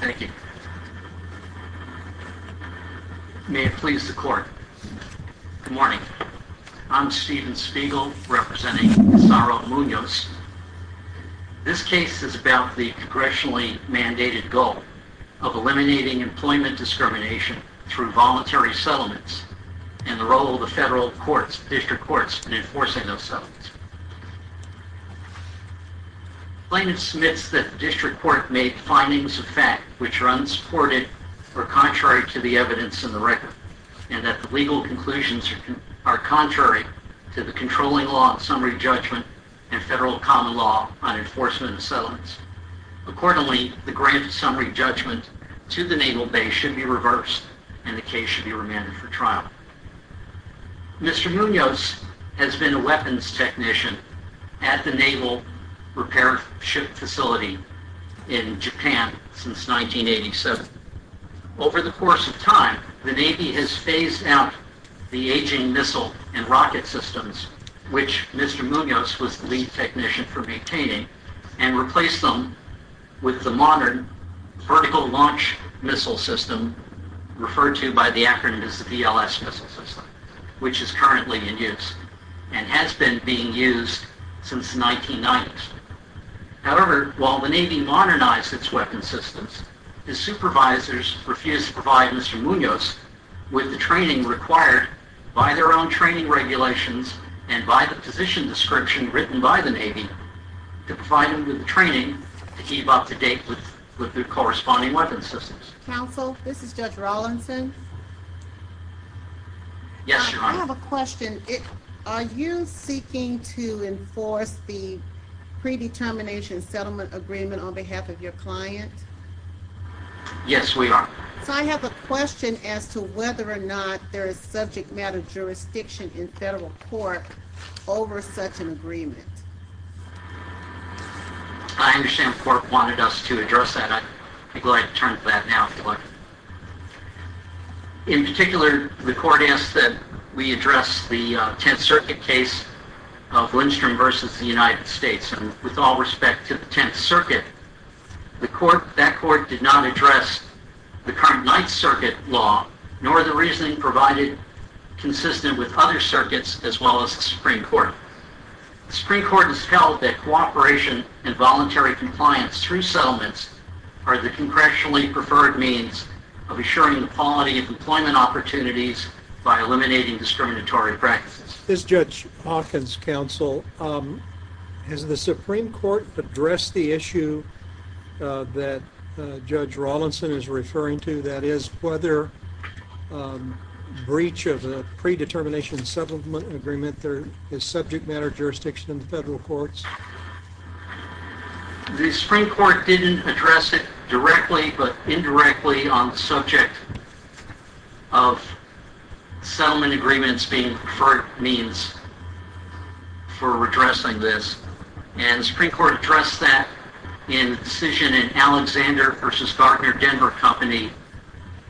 Thank you. May it please the court. Good morning. I'm Stephen Spiegel representing Isauro Munoz. This case is about the congressionally mandated goal of eliminating employment discrimination through voluntary settlements and the role of the federal courts, district courts, in enforcing those settlements. The plaintiff submits that the district court made findings of fact which are unsupported or contrary to the evidence in the record, and that the legal conclusions are contrary to the controlling law of summary judgment and federal common law on enforcement of settlements. Accordingly, the grant of summary judgment to the Naval Base should be reversed, and the case should be remanded for trial. Mr. Munoz has been a weapons technician at the Naval Repair Ship Facility in Japan since 1987. Over the course of time, the Navy has phased out the aging missile and rocket systems, which Mr. Munoz was the lead technician for maintaining, and replaced them with the modern Vertical Launch Missile System, referred to by the acronym as the VLS Missile System, which is currently in use and has been being used since the 1990s. However, while the Navy modernized its weapons systems, its supervisors refused to provide Mr. Munoz with the training required by their own training regulations and by the position description written by the Navy to provide him with training to keep up to date with the corresponding weapons systems. Counsel, this is Judge Rawlinson. Yes, Your Honor. I have a question. Are you seeking to enforce the predetermination settlement agreement on behalf of your client? Yes, we are. So, I have a question as to whether or not there is subject matter jurisdiction in the agreement. I understand the Court wanted us to address that. I'd be glad to turn to that now. In particular, the Court asked that we address the Tenth Circuit case of Lindstrom versus the United States, and with all respect to the Tenth Circuit, that Court did not address the current Ninth Circuit law, nor the reasoning provided consistent with other circuits as well as the Supreme Court. The Supreme Court has held that cooperation and voluntary compliance through settlements are the congressionally preferred means of assuring the quality of employment opportunities by eliminating discriminatory practices. This is Judge Hawkins. Counsel, has the Supreme Court addressed the issue that Judge Rawlinson is referring to, that is whether breach of the predetermination settlement agreement is subject matter jurisdiction in the federal courts? The Supreme Court didn't address it directly, but indirectly on the subject of settlement agreements being preferred means for addressing this, and the Supreme Court addressed that in the decision in Alexander versus Gartner Denver Company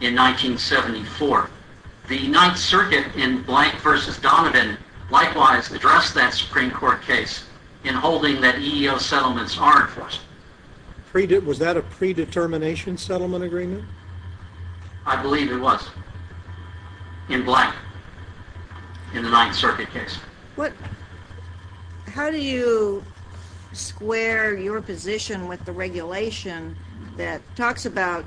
in 1974. The Ninth Circuit in Blank versus Donovan likewise addressed that Supreme Court case in holding that EEO settlements are enforced. Was that a predetermination settlement agreement? I believe it was in Blank in the Ninth Circuit case. How do you square your position with the regulation that talks about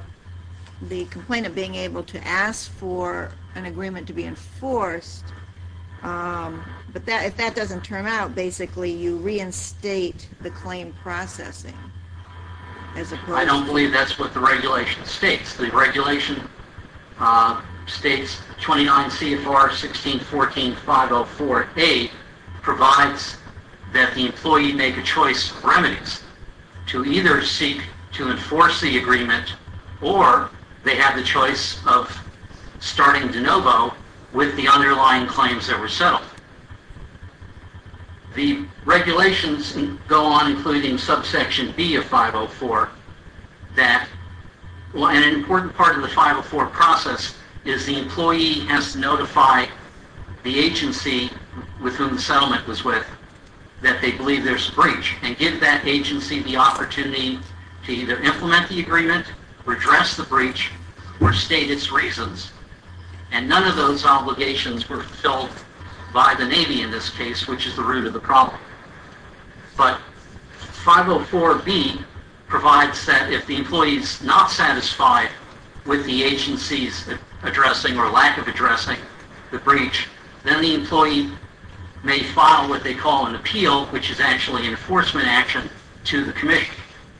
the complaint of being able to ask for an agreement to be enforced, but that if that doesn't turn out basically you reinstate the claim processing? I don't believe that's what the regulation states. The regulation states 29 CFR 1614 504 A provides that the employee make a choice of remedies to either seek to enforce the agreement or they have the choice of starting de novo with the underlying claims that were settled. The regulations go on including subsection B of 504 that an important part of the 504 process is the employee has to notify the agency with whom the settlement was with that they believe there's a breach and give that agency the opportunity to either implement the agreement, redress the breach, or state its reasons, and none of those obligations were fulfilled by the Navy in this case, which is the root of the problem. But 504 B provides that if the employee is not satisfied with the agency's addressing or lack of addressing the breach, then the employee may file what they call an appeal, which is actually an enforcement action to the commission.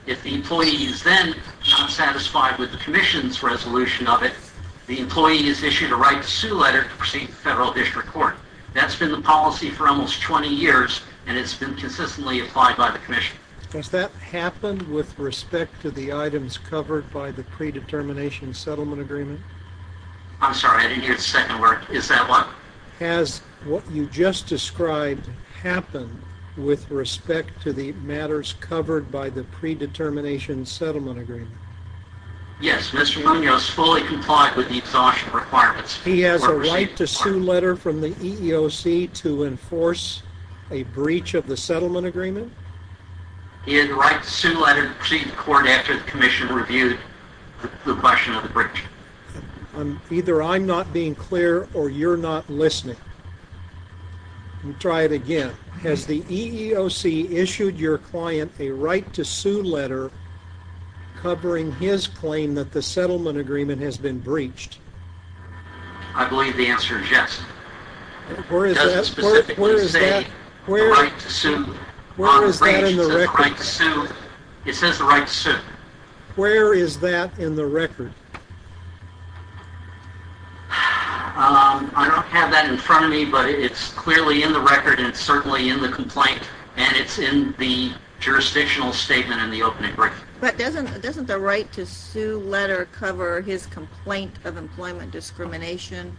If the employee is then not satisfied with the commission's resolution of it, the employee is issued a right to sue letter to proceed to federal district court. That's been the policy for almost 20 years and it's been consistently applied by the commission. Does that happen with respect to the items covered by the predetermination settlement agreement? I'm sorry, I didn't hear the second word. Is that what? Has what you just described happen with respect to the matters covered by the predetermination settlement agreement? Yes, Mr. Munoz fully complied with the exhaustion requirements. He has a right to sue letter from the EEOC to enforce a breach of the settlement agreement? He had the right to sue letter to proceed to court after the commission reviewed the question of the breach. Either I'm not being clear or you're not listening. Let me try it again. Has the EEOC issued your client a right to sue letter covering his claim that the settlement agreement has been breached? I believe the answer is yes. It doesn't specifically say the right to sue. It says the right to sue. Where is that in the record? I don't have that in front of me, but it's clearly in the record and it's certainly in the complaint and it's in the jurisdictional statement in the opening brief. But doesn't the right to sue letter cover his complaint of employment discrimination?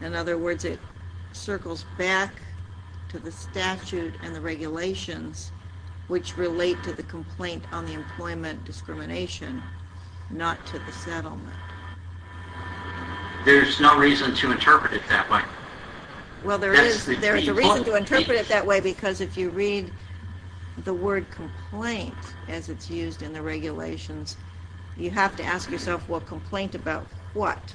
In other words, it circles back to the statute and the regulations which relate to the complaint on the employment discrimination, not to the settlement. There's no reason to interpret it that way. Well, there is a reason to interpret it that way because if you read the word complaint as it's used in the regulations, you have to ask yourself, well, complaint about what?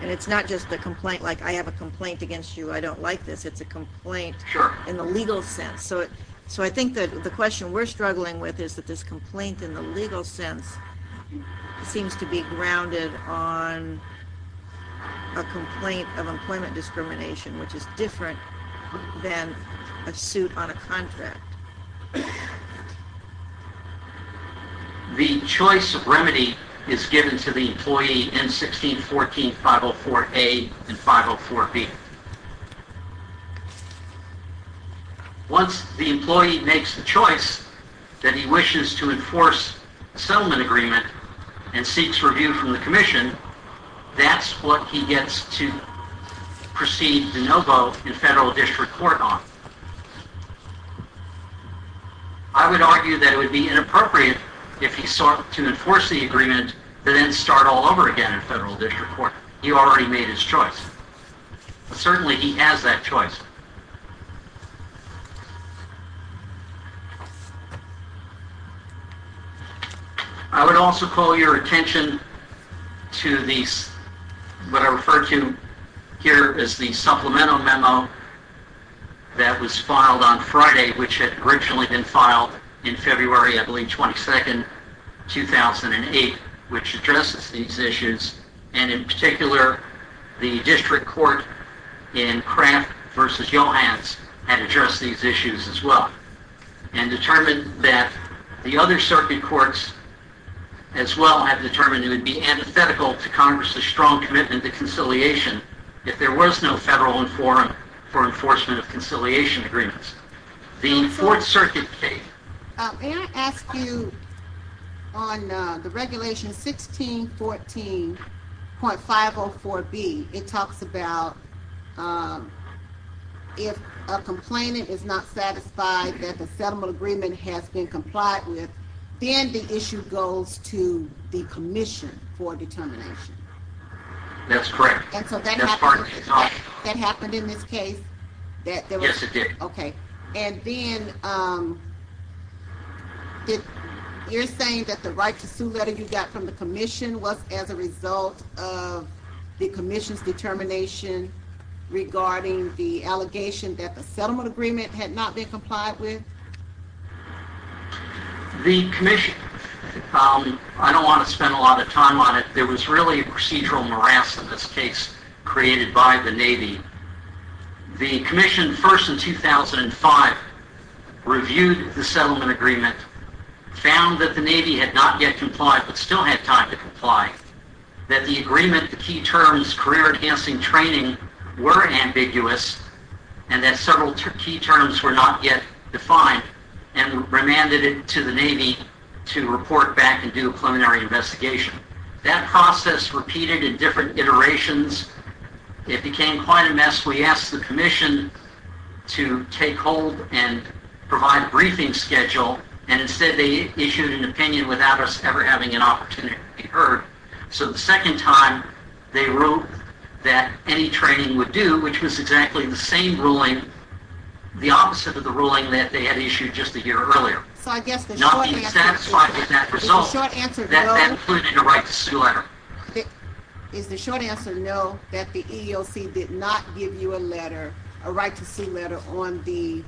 And it's not just the complaint like I have a complaint against you. I don't like this. It's a complaint in the legal sense. So I think that the question we're struggling with is that this complaint in the legal sense seems to be grounded on a complaint of employment discrimination, which is different than a suit on a contract. The choice of remedy is given to the employee in 1614 504A and 504B. Once the employee makes the choice that he wishes to enforce a settlement agreement and seeks review from the commission, that's what he gets to proceed de novo in federal district court on. I would argue that it would be inappropriate if he sought to enforce the agreement and then start all over again in federal district court. He already made his choice. Certainly he has that choice. I would also call your attention to these, what I refer to here is the supplemental memo that was filed on Friday, which had originally been filed in February, I believe, 22nd, 2008, which addresses these issues and in particular the district court in Kraft v. Johans had addressed these issues as well and determined that the other circuit courts as well have determined it would be antithetical to Congress's strong commitment to conciliation if there was no federal forum for enforcement of conciliation agreements. The fourth circuit case. May I ask you on the regulation 1614.504B, it talks about if a complainant is not satisfied that the settlement agreement has been complied with, then the issue goes to the commission for determination. That's correct. So that happened in this case? Yes, it did. Okay, and then you're saying that the right to sue letter you got from the commission was as a result of the commission's determination regarding the allegation that the settlement agreement had not been complied with? The commission, I don't want to spend a lot of time on it, there was really a procedural morass in this case created by the Navy. The commission first in 2005 reviewed the settlement agreement, found that the Navy had not yet complied but still had time to comply, that the agreement, the key terms, career enhancing training, were ambiguous and that several key terms were not yet defined and remanded it to the Navy to report back and do a preliminary investigation. That process repeated in different iterations. It became quite a mess. We asked the commission to take hold and provide a briefing schedule and instead they issued an opinion without us ever having an opportunity to be heard. So the second time they wrote that any training would do, which was exactly the same ruling, the opposite of the ruling that they had issued just a year ago. Is the short answer no, that the EEOC did not give you a letter, a right to sue letter, on the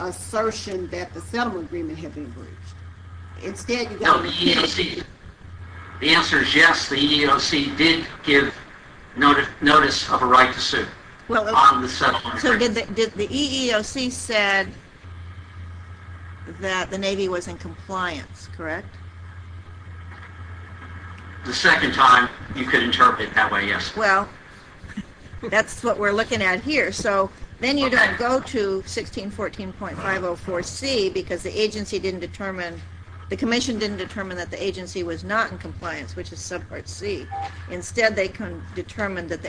assertion that the settlement agreement had been breached? The answer is yes, the EEOC did give notice of a right to sue. So the EEOC said that the Navy was in compliance, correct? The second time you could interpret that way, yes. Well, that's what we're looking at here. So then you don't go to 1614.504C because the agency didn't determine, the commission didn't determine that the agency was not in compliance, which is subpart C. Instead they can determine that the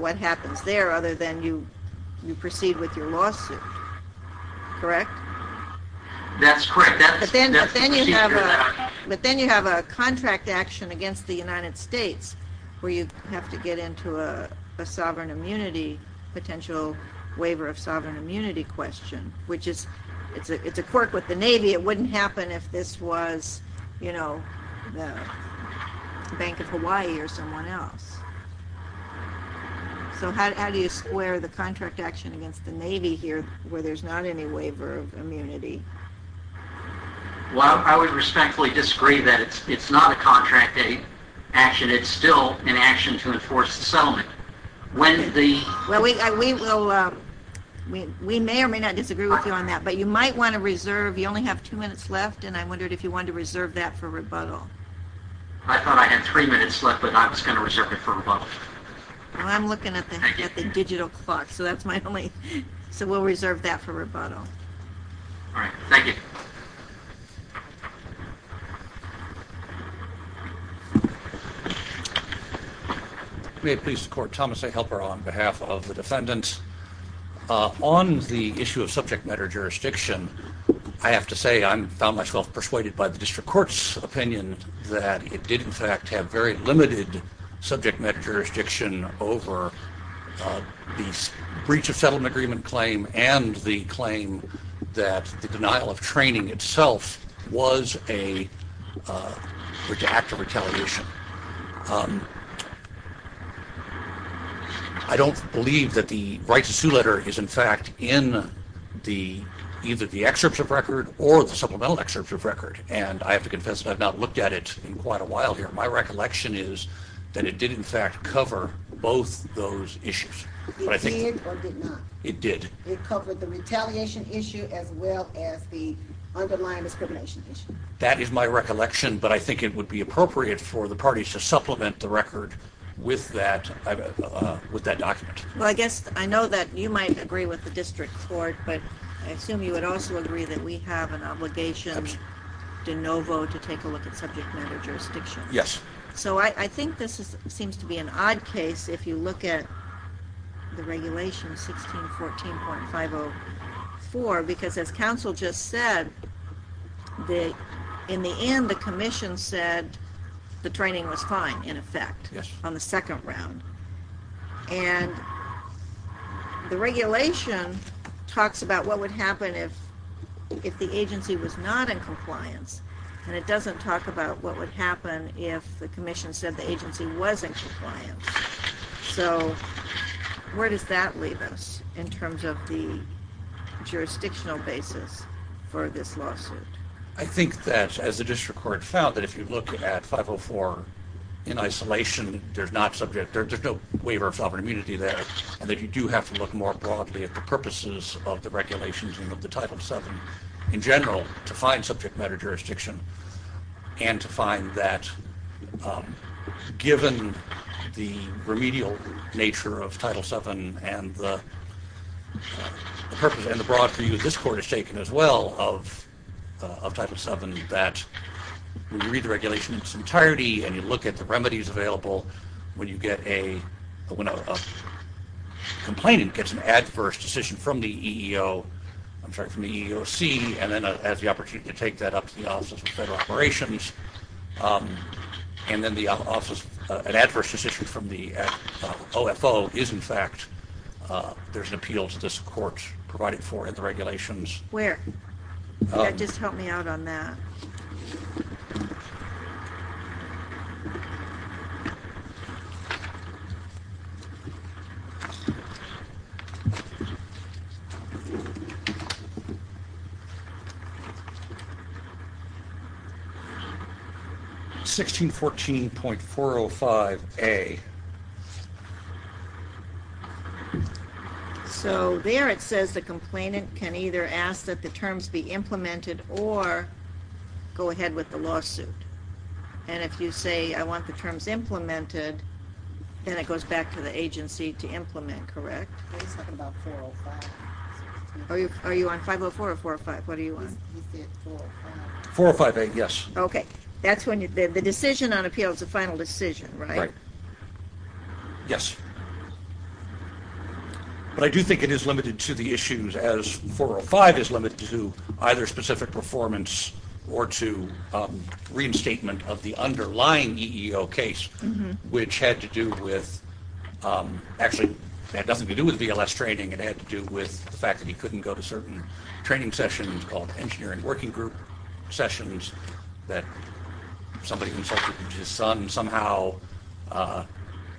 what happens there other than you proceed with your lawsuit, correct? That's correct. But then you have a contract action against the United States where you have to get into a sovereign immunity, potential waiver of sovereign immunity question, which is, it's a quirk with the Navy. It wouldn't happen if this was, you know, the Bank of Hawaii or someone else. So how do you square the contract action against the Navy here where there's not any waiver of immunity? Well, I would respectfully disagree that it's not a contract action. It's still an action to enforce the settlement. Well, we may or may not disagree with you on that, but you might want to reserve, you only have two minutes left, and I wondered if you wanted to reserve that for rebuttal. I thought I had three minutes left, but I was going to reserve it for rebuttal. Well, I'm looking at the digital clock, so that's my only, so we'll reserve that for rebuttal. All right, thank you. May it please the Court, Thomas A. Helper on behalf of the defendants. On the issue of subject matter jurisdiction, I have to say I found myself persuaded by the District Court's opinion that it did in fact have very limited subject matter jurisdiction over the breach of settlement agreement claim and the claim that the denial of training itself was an act of retaliation. I don't believe that the right to sue letter is in fact in either the excerpts of record or the supplemental excerpts of record, and I have to confess that I've not looked at it in quite a while here. My recollection is that it did in fact cover both those issues. It did or did not? It did. It covered the retaliation issue as well as the underlying discrimination issue? That is my recollection, but I think it would be appropriate for the parties to supplement the record with that document. Well, I guess I know that you might agree with the District Court, but I assume you would also agree that we have an obligation de novo to take a look at subject matter jurisdiction. Yes. So I think this seems to be an odd case if you look at the regulation 1614.504, because as counsel just said, in the end the Commission said the training was fine in effect on the second round, and the regulation talks about what would happen if the agency was not in compliance, and it doesn't talk about what would happen if the Commission said the agency was in compliance. So where does that leave us in terms of the jurisdictional basis for this lawsuit? I think that, as the District Court found, that if you look at 504 in isolation, there's no waiver of sovereign immunity there. And that you do have to look more broadly at the purposes of the regulations and of the Title VII in general to find subject matter jurisdiction, and to find that, given the remedial nature of Title VII and the purpose and the broad view this Court has taken as well of Title VII, that when you read the regulation in its entirety and you look at the remedies available, when you get a complainant gets an adverse decision from the EEOC and then has the opportunity to take that up to the Office of Federal Operations, and then an adverse decision from the OFO is, in fact, there's an appeal to this Court provided for in the regulations. Where? Yeah, just help me out on that. 1614.405A. Okay. So there it says the complainant can either ask that the terms be implemented or go ahead with the lawsuit. And if you say, I want the terms implemented, then it goes back to the agency to implement, correct? Are you talking about 405? Are you on 504 or 405? What are you on? He said 405. 405A, yes. Okay. That's when you, the decision on appeal is the final decision, right? Right. Yes. But I do think it is limited to the issues as 405 is limited to either specific performance or to reinstatement of the underlying EEO case, which had to do with, actually, it had nothing to do with VLS training. It had to do with the fact that he couldn't go to certain training sessions called engineering working group sessions that somebody consulted with his son somehow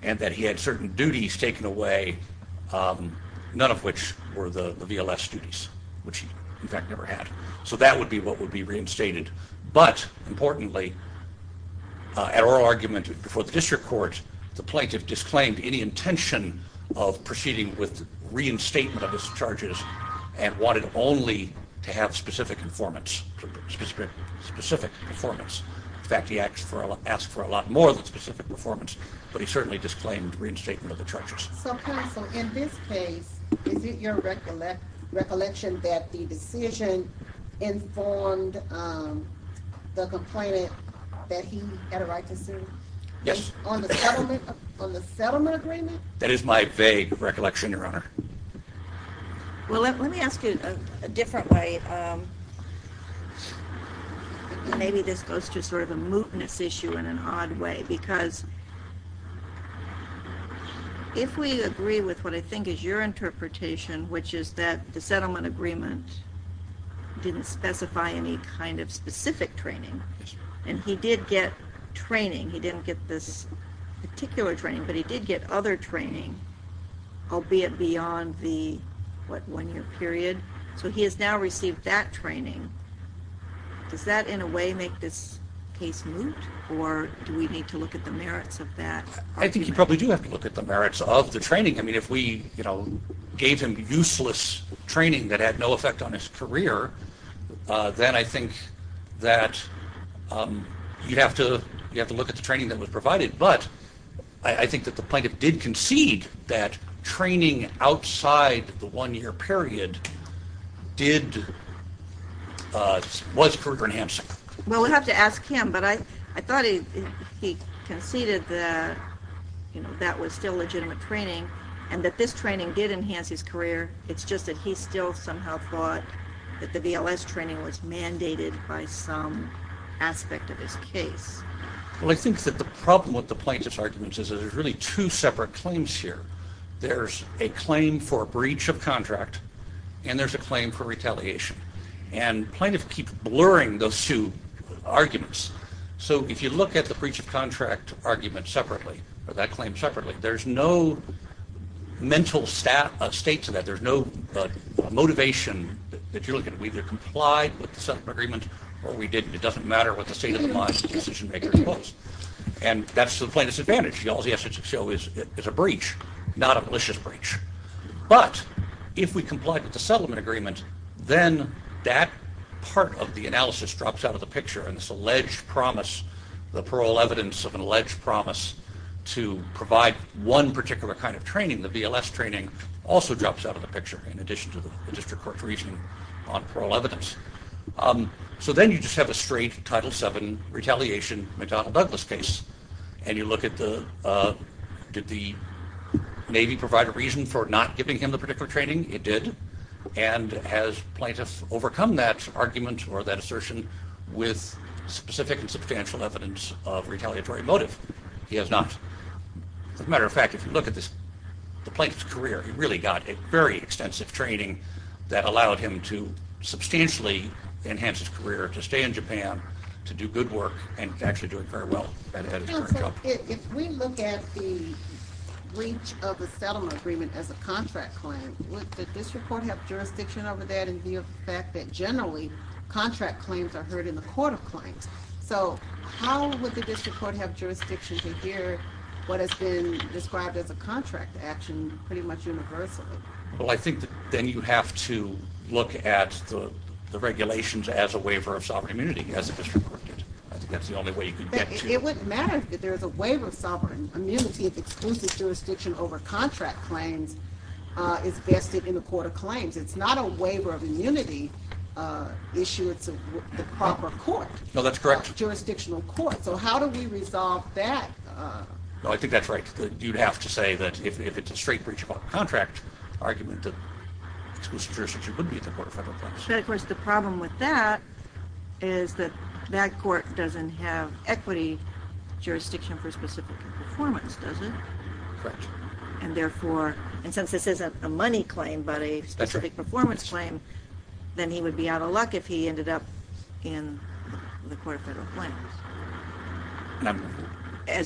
and that he had certain duties taken away, none of which were the VLS duties, which he, in fact, never had. So that would be what would be reinstated. But importantly, at oral argument before the district court, the plaintiff disclaimed any intention of proceeding with reinstatement of his charges and wanted only to have specific performance. In fact, asked for a lot more than specific performance, but he certainly disclaimed reinstatement of the charges. So counsel, in this case, is it your recollection that the decision informed the complainant that he had a right to sue? Yes. On the settlement agreement? That is my vague recollection, your honor. Well, let me ask you a different way. Maybe this goes to sort of a mootness issue in an odd way, because if we agree with what I think is your interpretation, which is that the settlement agreement didn't specify any kind of specific training, and he did get training, he didn't get this particular training, but he did get other training, albeit beyond the, what, one-year period. So he has now received that training. Does that in a way make this case moot, or do we need to look at the merits of that? I think you probably do have to look at the merits of the training. I mean, if we, you know, gave him useless training that had no effect on his career, then I think that you'd have to look at the training that was provided. But I think that the plaintiff did concede that training outside the one-year period did, was career-enhancing. Well, we'll have to ask him, but I thought he conceded that, you know, that was still legitimate training, and that this training did enhance his career. It's just that he still somehow thought that the VLS training was mandated by some aspect of his case. Well, I think that the problem with the plaintiff's argument is there's really two separate claims here. There's a claim for a breach of contract, and there's a claim for retaliation. And plaintiffs keep blurring those two arguments. So if you look at the breach of contract argument separately, or that claim separately, there's no mental state to that. There's no motivation that you're looking at. We either complied with the settlement agreement or we didn't. It doesn't matter what the state of the mind of the decision-maker was. And that's the essence of show is a breach, not a malicious breach. But if we complied with the settlement agreement, then that part of the analysis drops out of the picture. And this alleged promise, the parole evidence of an alleged promise to provide one particular kind of training, the VLS training, also drops out of the picture in addition to the district court's reasoning on parole evidence. So then you just have a straight Title VII retaliation McDonald-Douglas case, and you look at did the Navy provide a reason for not giving him the particular training? It did. And has plaintiffs overcome that argument or that assertion with specific and substantial evidence of retaliatory motive? He has not. As a matter of fact, if you look at the plaintiff's career, he really got a very extensive training that allowed him to substantially enhance his career, to stay in Japan, to do good and actually do it very well. If we look at the breach of the settlement agreement as a contract claim, would the district court have jurisdiction over that and the fact that generally contract claims are heard in the court of claims? So how would the district court have jurisdiction to hear what has been described as a contract action pretty much universally? Well, I think then you have to look at the regulations as a waiver of sovereign immunity, as the district court did. I think that's the only way you could get to it. It wouldn't matter if there's a waiver of sovereign immunity if exclusive jurisdiction over contract claims is vested in the court of claims. It's not a waiver of immunity issue. It's the proper court. No, that's correct. Jurisdictional court. So how do we resolve that? No, I think that's right. You'd have to say that if it's a contract argument that exclusive jurisdiction would be at the court of federal claims. But of course the problem with that is that that court doesn't have equity jurisdiction for specific performance, does it? Correct. And therefore, and since this isn't a money claim but a specific performance claim, then he would be out of luck if he ended up in the court of federal claims. And I'm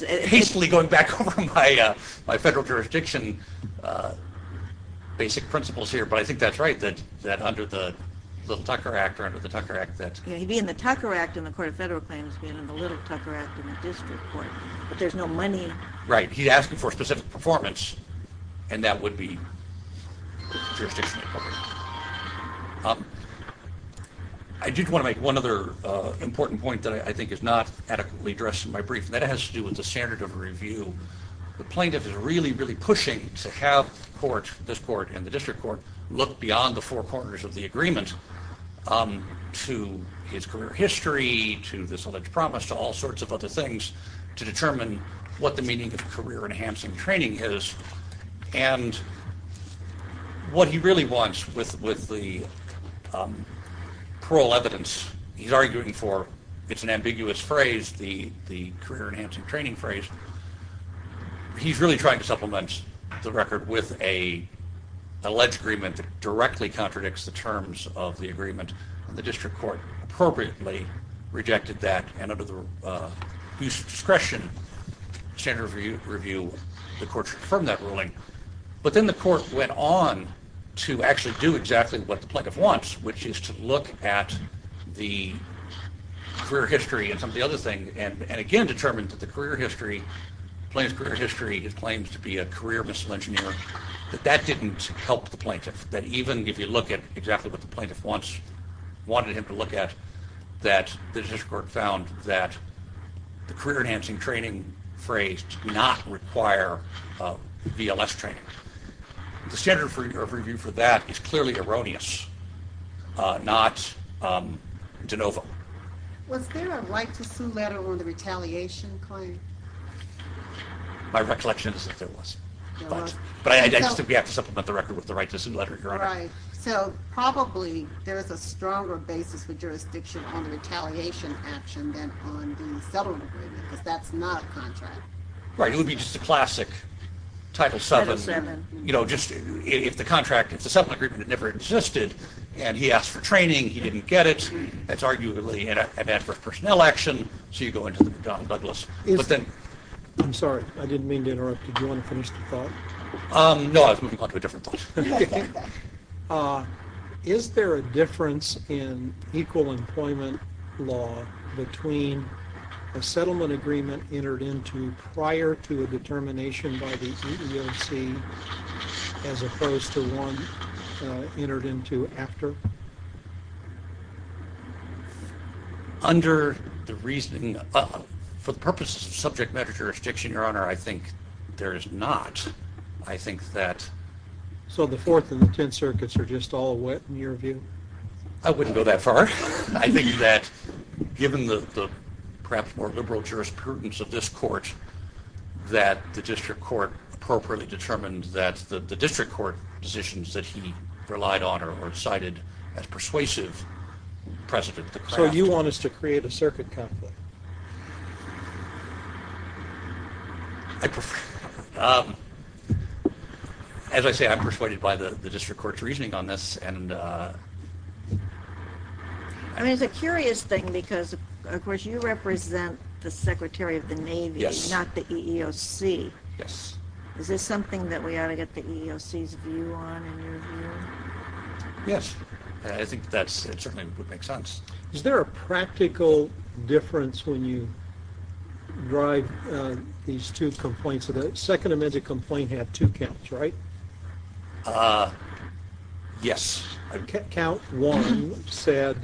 hastily going back over my federal jurisdiction basic principles here, but I think that's right that under the Little Tucker Act or under the Tucker Act. Yeah, he'd be in the Tucker Act in the court of federal claims, being in the Little Tucker Act in the district court, but there's no money. Right, he's asking for specific performance and that would be jurisdictional coverage. I did want to make one other important point that I think is not adequately addressed in my brief. That has to do with the standard of review. The plaintiff is really, really pushing to have court, this court and the district court, look beyond the four corners of the agreement to his career history, to this alleged promise, to all sorts of other things to determine what the meaning of career enhancing training is. And what he really wants with the parole evidence, he's arguing for, it's an ambiguous phrase, the career enhancing training phrase. He's really trying to supplement the record with an alleged agreement that directly contradicts the terms of the agreement and the district court appropriately rejected that and under the ruling. But then the court went on to actually do exactly what the plaintiff wants, which is to look at the career history and some of the other things, and again determine that the career history, the plaintiff's career history, his claims to be a career missile engineer, that that didn't help the plaintiff. That even if you look at exactly what the plaintiff wants, wanted him to look at, that the district court found that the career enhancing training phrase did not require VLS training. The standard of review for that is clearly erroneous, not de novo. Was there a right to sue letter on the retaliation claim? My recollection is that there was, but I still have to supplement the record with the right to sue letter. Right, so probably there's a stronger basis for jurisdiction on the retaliation action than on the settlement agreement, because that's not a contract. Right, it would be just a classic Title VII, you know, just if the contract is a settlement agreement that never existed and he asked for training, he didn't get it, that's arguably an advance for personnel action, so you go into the McDonnell Douglas. I'm sorry, I didn't mean to interrupt. Did you want to finish the thought? No, I was moving on to a different thought. Is there a difference in equal employment law between a settlement agreement entered into prior to a determination by the EEOC as opposed to one entered into after? Under the reasoning, for the purpose of subject matter jurisdiction, your honor, I think there is not. I think that... So the Fourth and the Tenth Circuits are just all wet in your view? I wouldn't go that far. I think that, given the perhaps more liberal jurisprudence of this court, that the district court appropriately determined that the district court decisions that he relied on or cited as persuasive precedent. So you want us to create a circuit conflict? I prefer... As I say, I'm persuaded by the district court's reasoning on this and... I mean, it's a curious thing because, of course, you represent the Secretary of the Navy, not the EEOC. Yes. Is this something that we ought to get the EEOC's view on in your view? Yes. I think that certainly would make sense. Is there a practical difference when you drive these two complaints? The second amended complaint had two counts, right? Yes. Count one said,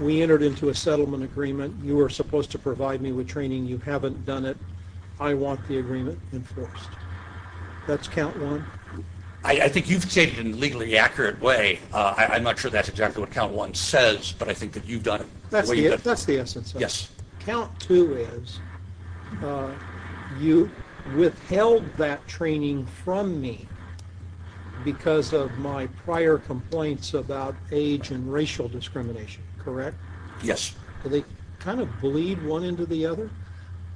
we entered into a settlement agreement. You were supposed to provide me with training. You haven't done it. I want the agreement enforced. That's count one? I think you've stated in a legally accurate way, I'm not sure that's exactly what count one says, but I think that you've done it. That's the essence of it. Yes. Count two is, you withheld that training from me because of my prior complaints about age and racial discrimination, correct? Yes. Do they kind of bleed one into the other?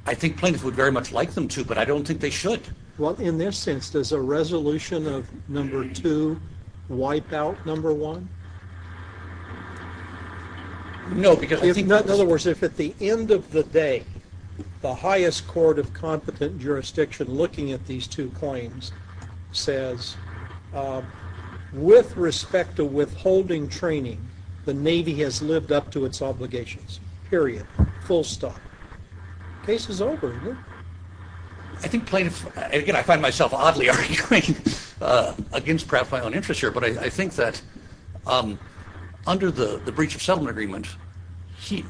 I think plaintiffs would very much like them to, but I don't think they should. Well, in this sense, does a resolution of number two wipe out number one? No. In other words, if at the end of the day, the highest court of competent jurisdiction looking at these two claims says, with respect to withholding training, the Navy has lived up to its obligations, period. Full stop. Case is over. I think plaintiffs, again, I find myself oddly arguing against perhaps my own interest here, but I think that under the breach of settlement agreement, the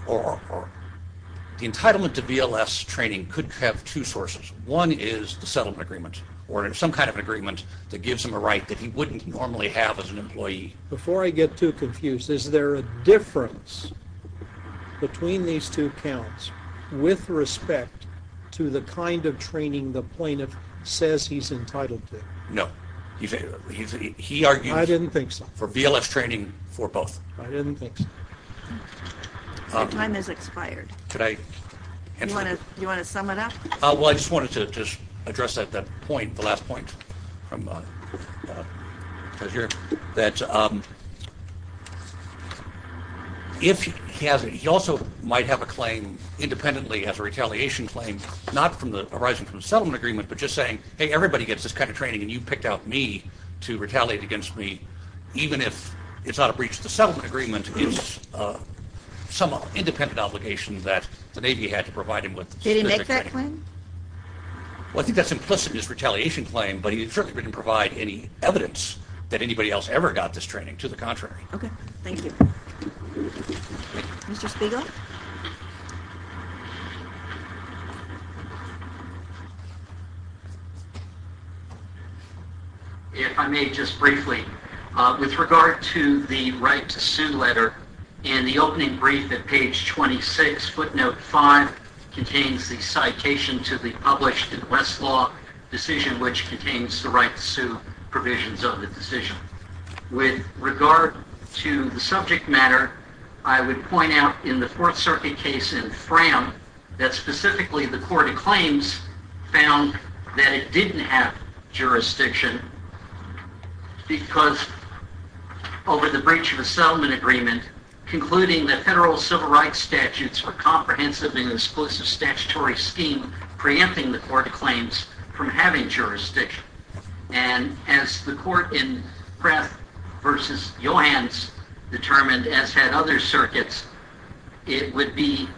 entitlement to VLS training could have two sources. One is the settlement agreement, or some kind of agreement that gives him a right that he wouldn't normally have as an employee. Before I get too confused, is there a difference between these two counts with respect to the kind of training the plaintiff says he's entitled to? No. I didn't think so. He argued for VLS training for both. I didn't think so. Your time has expired. Do you want to sum it up? Well, I just wanted to address that point, the last point. He also might have a claim independently as a retaliation claim, not arising from the settlement agreement, but just saying, hey, everybody gets this kind of training, and you picked out me to retaliate against me, even if it's not a breach of the settlement agreement. It's some independent obligation that the Navy had to provide him with. Did he make that claim? Well, I think that's implicit in his retaliation claim, but he certainly didn't provide any evidence that anybody else ever got this training. To the contrary. Okay, thank you. Mr. Spiegel? If I may just briefly, with regard to the right to sue letter, in the opening brief at page 26, footnote 5 contains the citation to the published in Westlaw decision which contains the right to sue provisions of the decision. With regard to the subject matter, I would point out in the Fourth Circuit case in Fram that specifically the court of claims found that it didn't have jurisdiction because over the breach of a settlement agreement, concluding that federal civil rights statutes were comprehensive and exclusive statutory scheme preempting the court of claims from having jurisdiction. And as the court in Pratt v. Johans determined, as had other circuits, it would be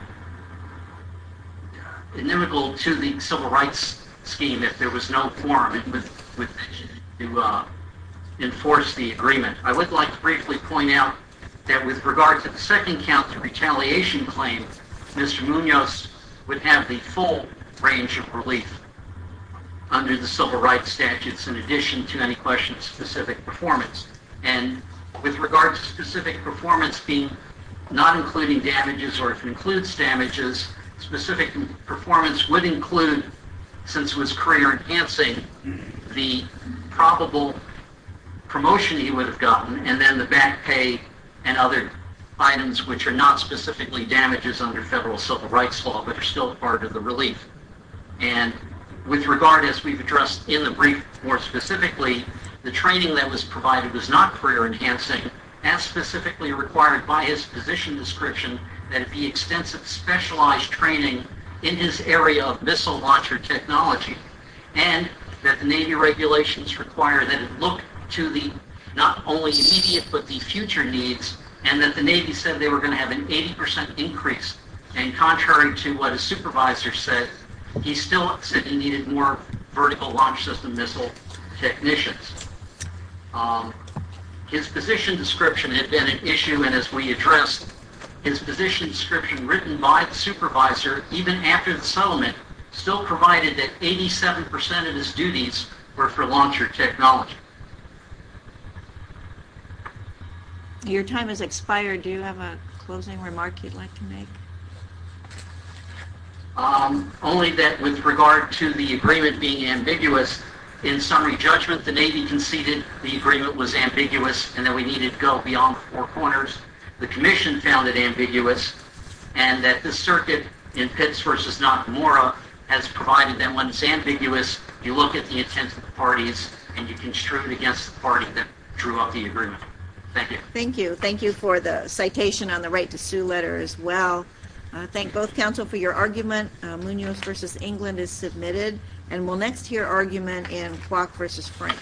inimical to the civil rights scheme if there was no forum to enforce the agreement. I would like to briefly point out that with regard to the second count of retaliation claim, Mr. Munoz would have the full range of relief under the civil rights statutes in addition to any question of specific performance. And with regard to specific performance being not including damages or if it includes damages, specific performance would include, since it was career enhancing, the probable promotion he would have gotten and then the back pay and other items which are not specifically damages under federal civil rights law but are still part of the relief. And with regard, as we've addressed in the brief more specifically, the training that was provided was not career enhancing as specifically required by his position description that it be extensive specialized training in his area of missile launcher technology and that the Navy regulations require that it look to the not only immediate but the future needs and that the Navy said they were going to have an 80 percent increase. And contrary to what a supervisor said, he still said he needed more vertical launch system missile technicians. His position description had been an issue and as we addressed, his position description written by the supervisor even after the settlement still provided that 87 percent of his duties were for launcher technology. Your time has expired. Do you have a closing remark you'd like to make? Only that with regard to the agreement being ambiguous, in summary judgment, the Navy conceded the agreement was ambiguous and that we needed to go beyond four corners. The Commission found it ambiguous and that the circuit in Pitts v. Nakamura has provided that when it's ambiguous, you look at the intent of the parties and you construe it against the party that drew up the agreement. Thank you. Thank you. Thank you for the citation on the right to both counsel for your argument. Munoz v. England is submitted and we'll next hear argument in Kwok v. Frank. Thank you.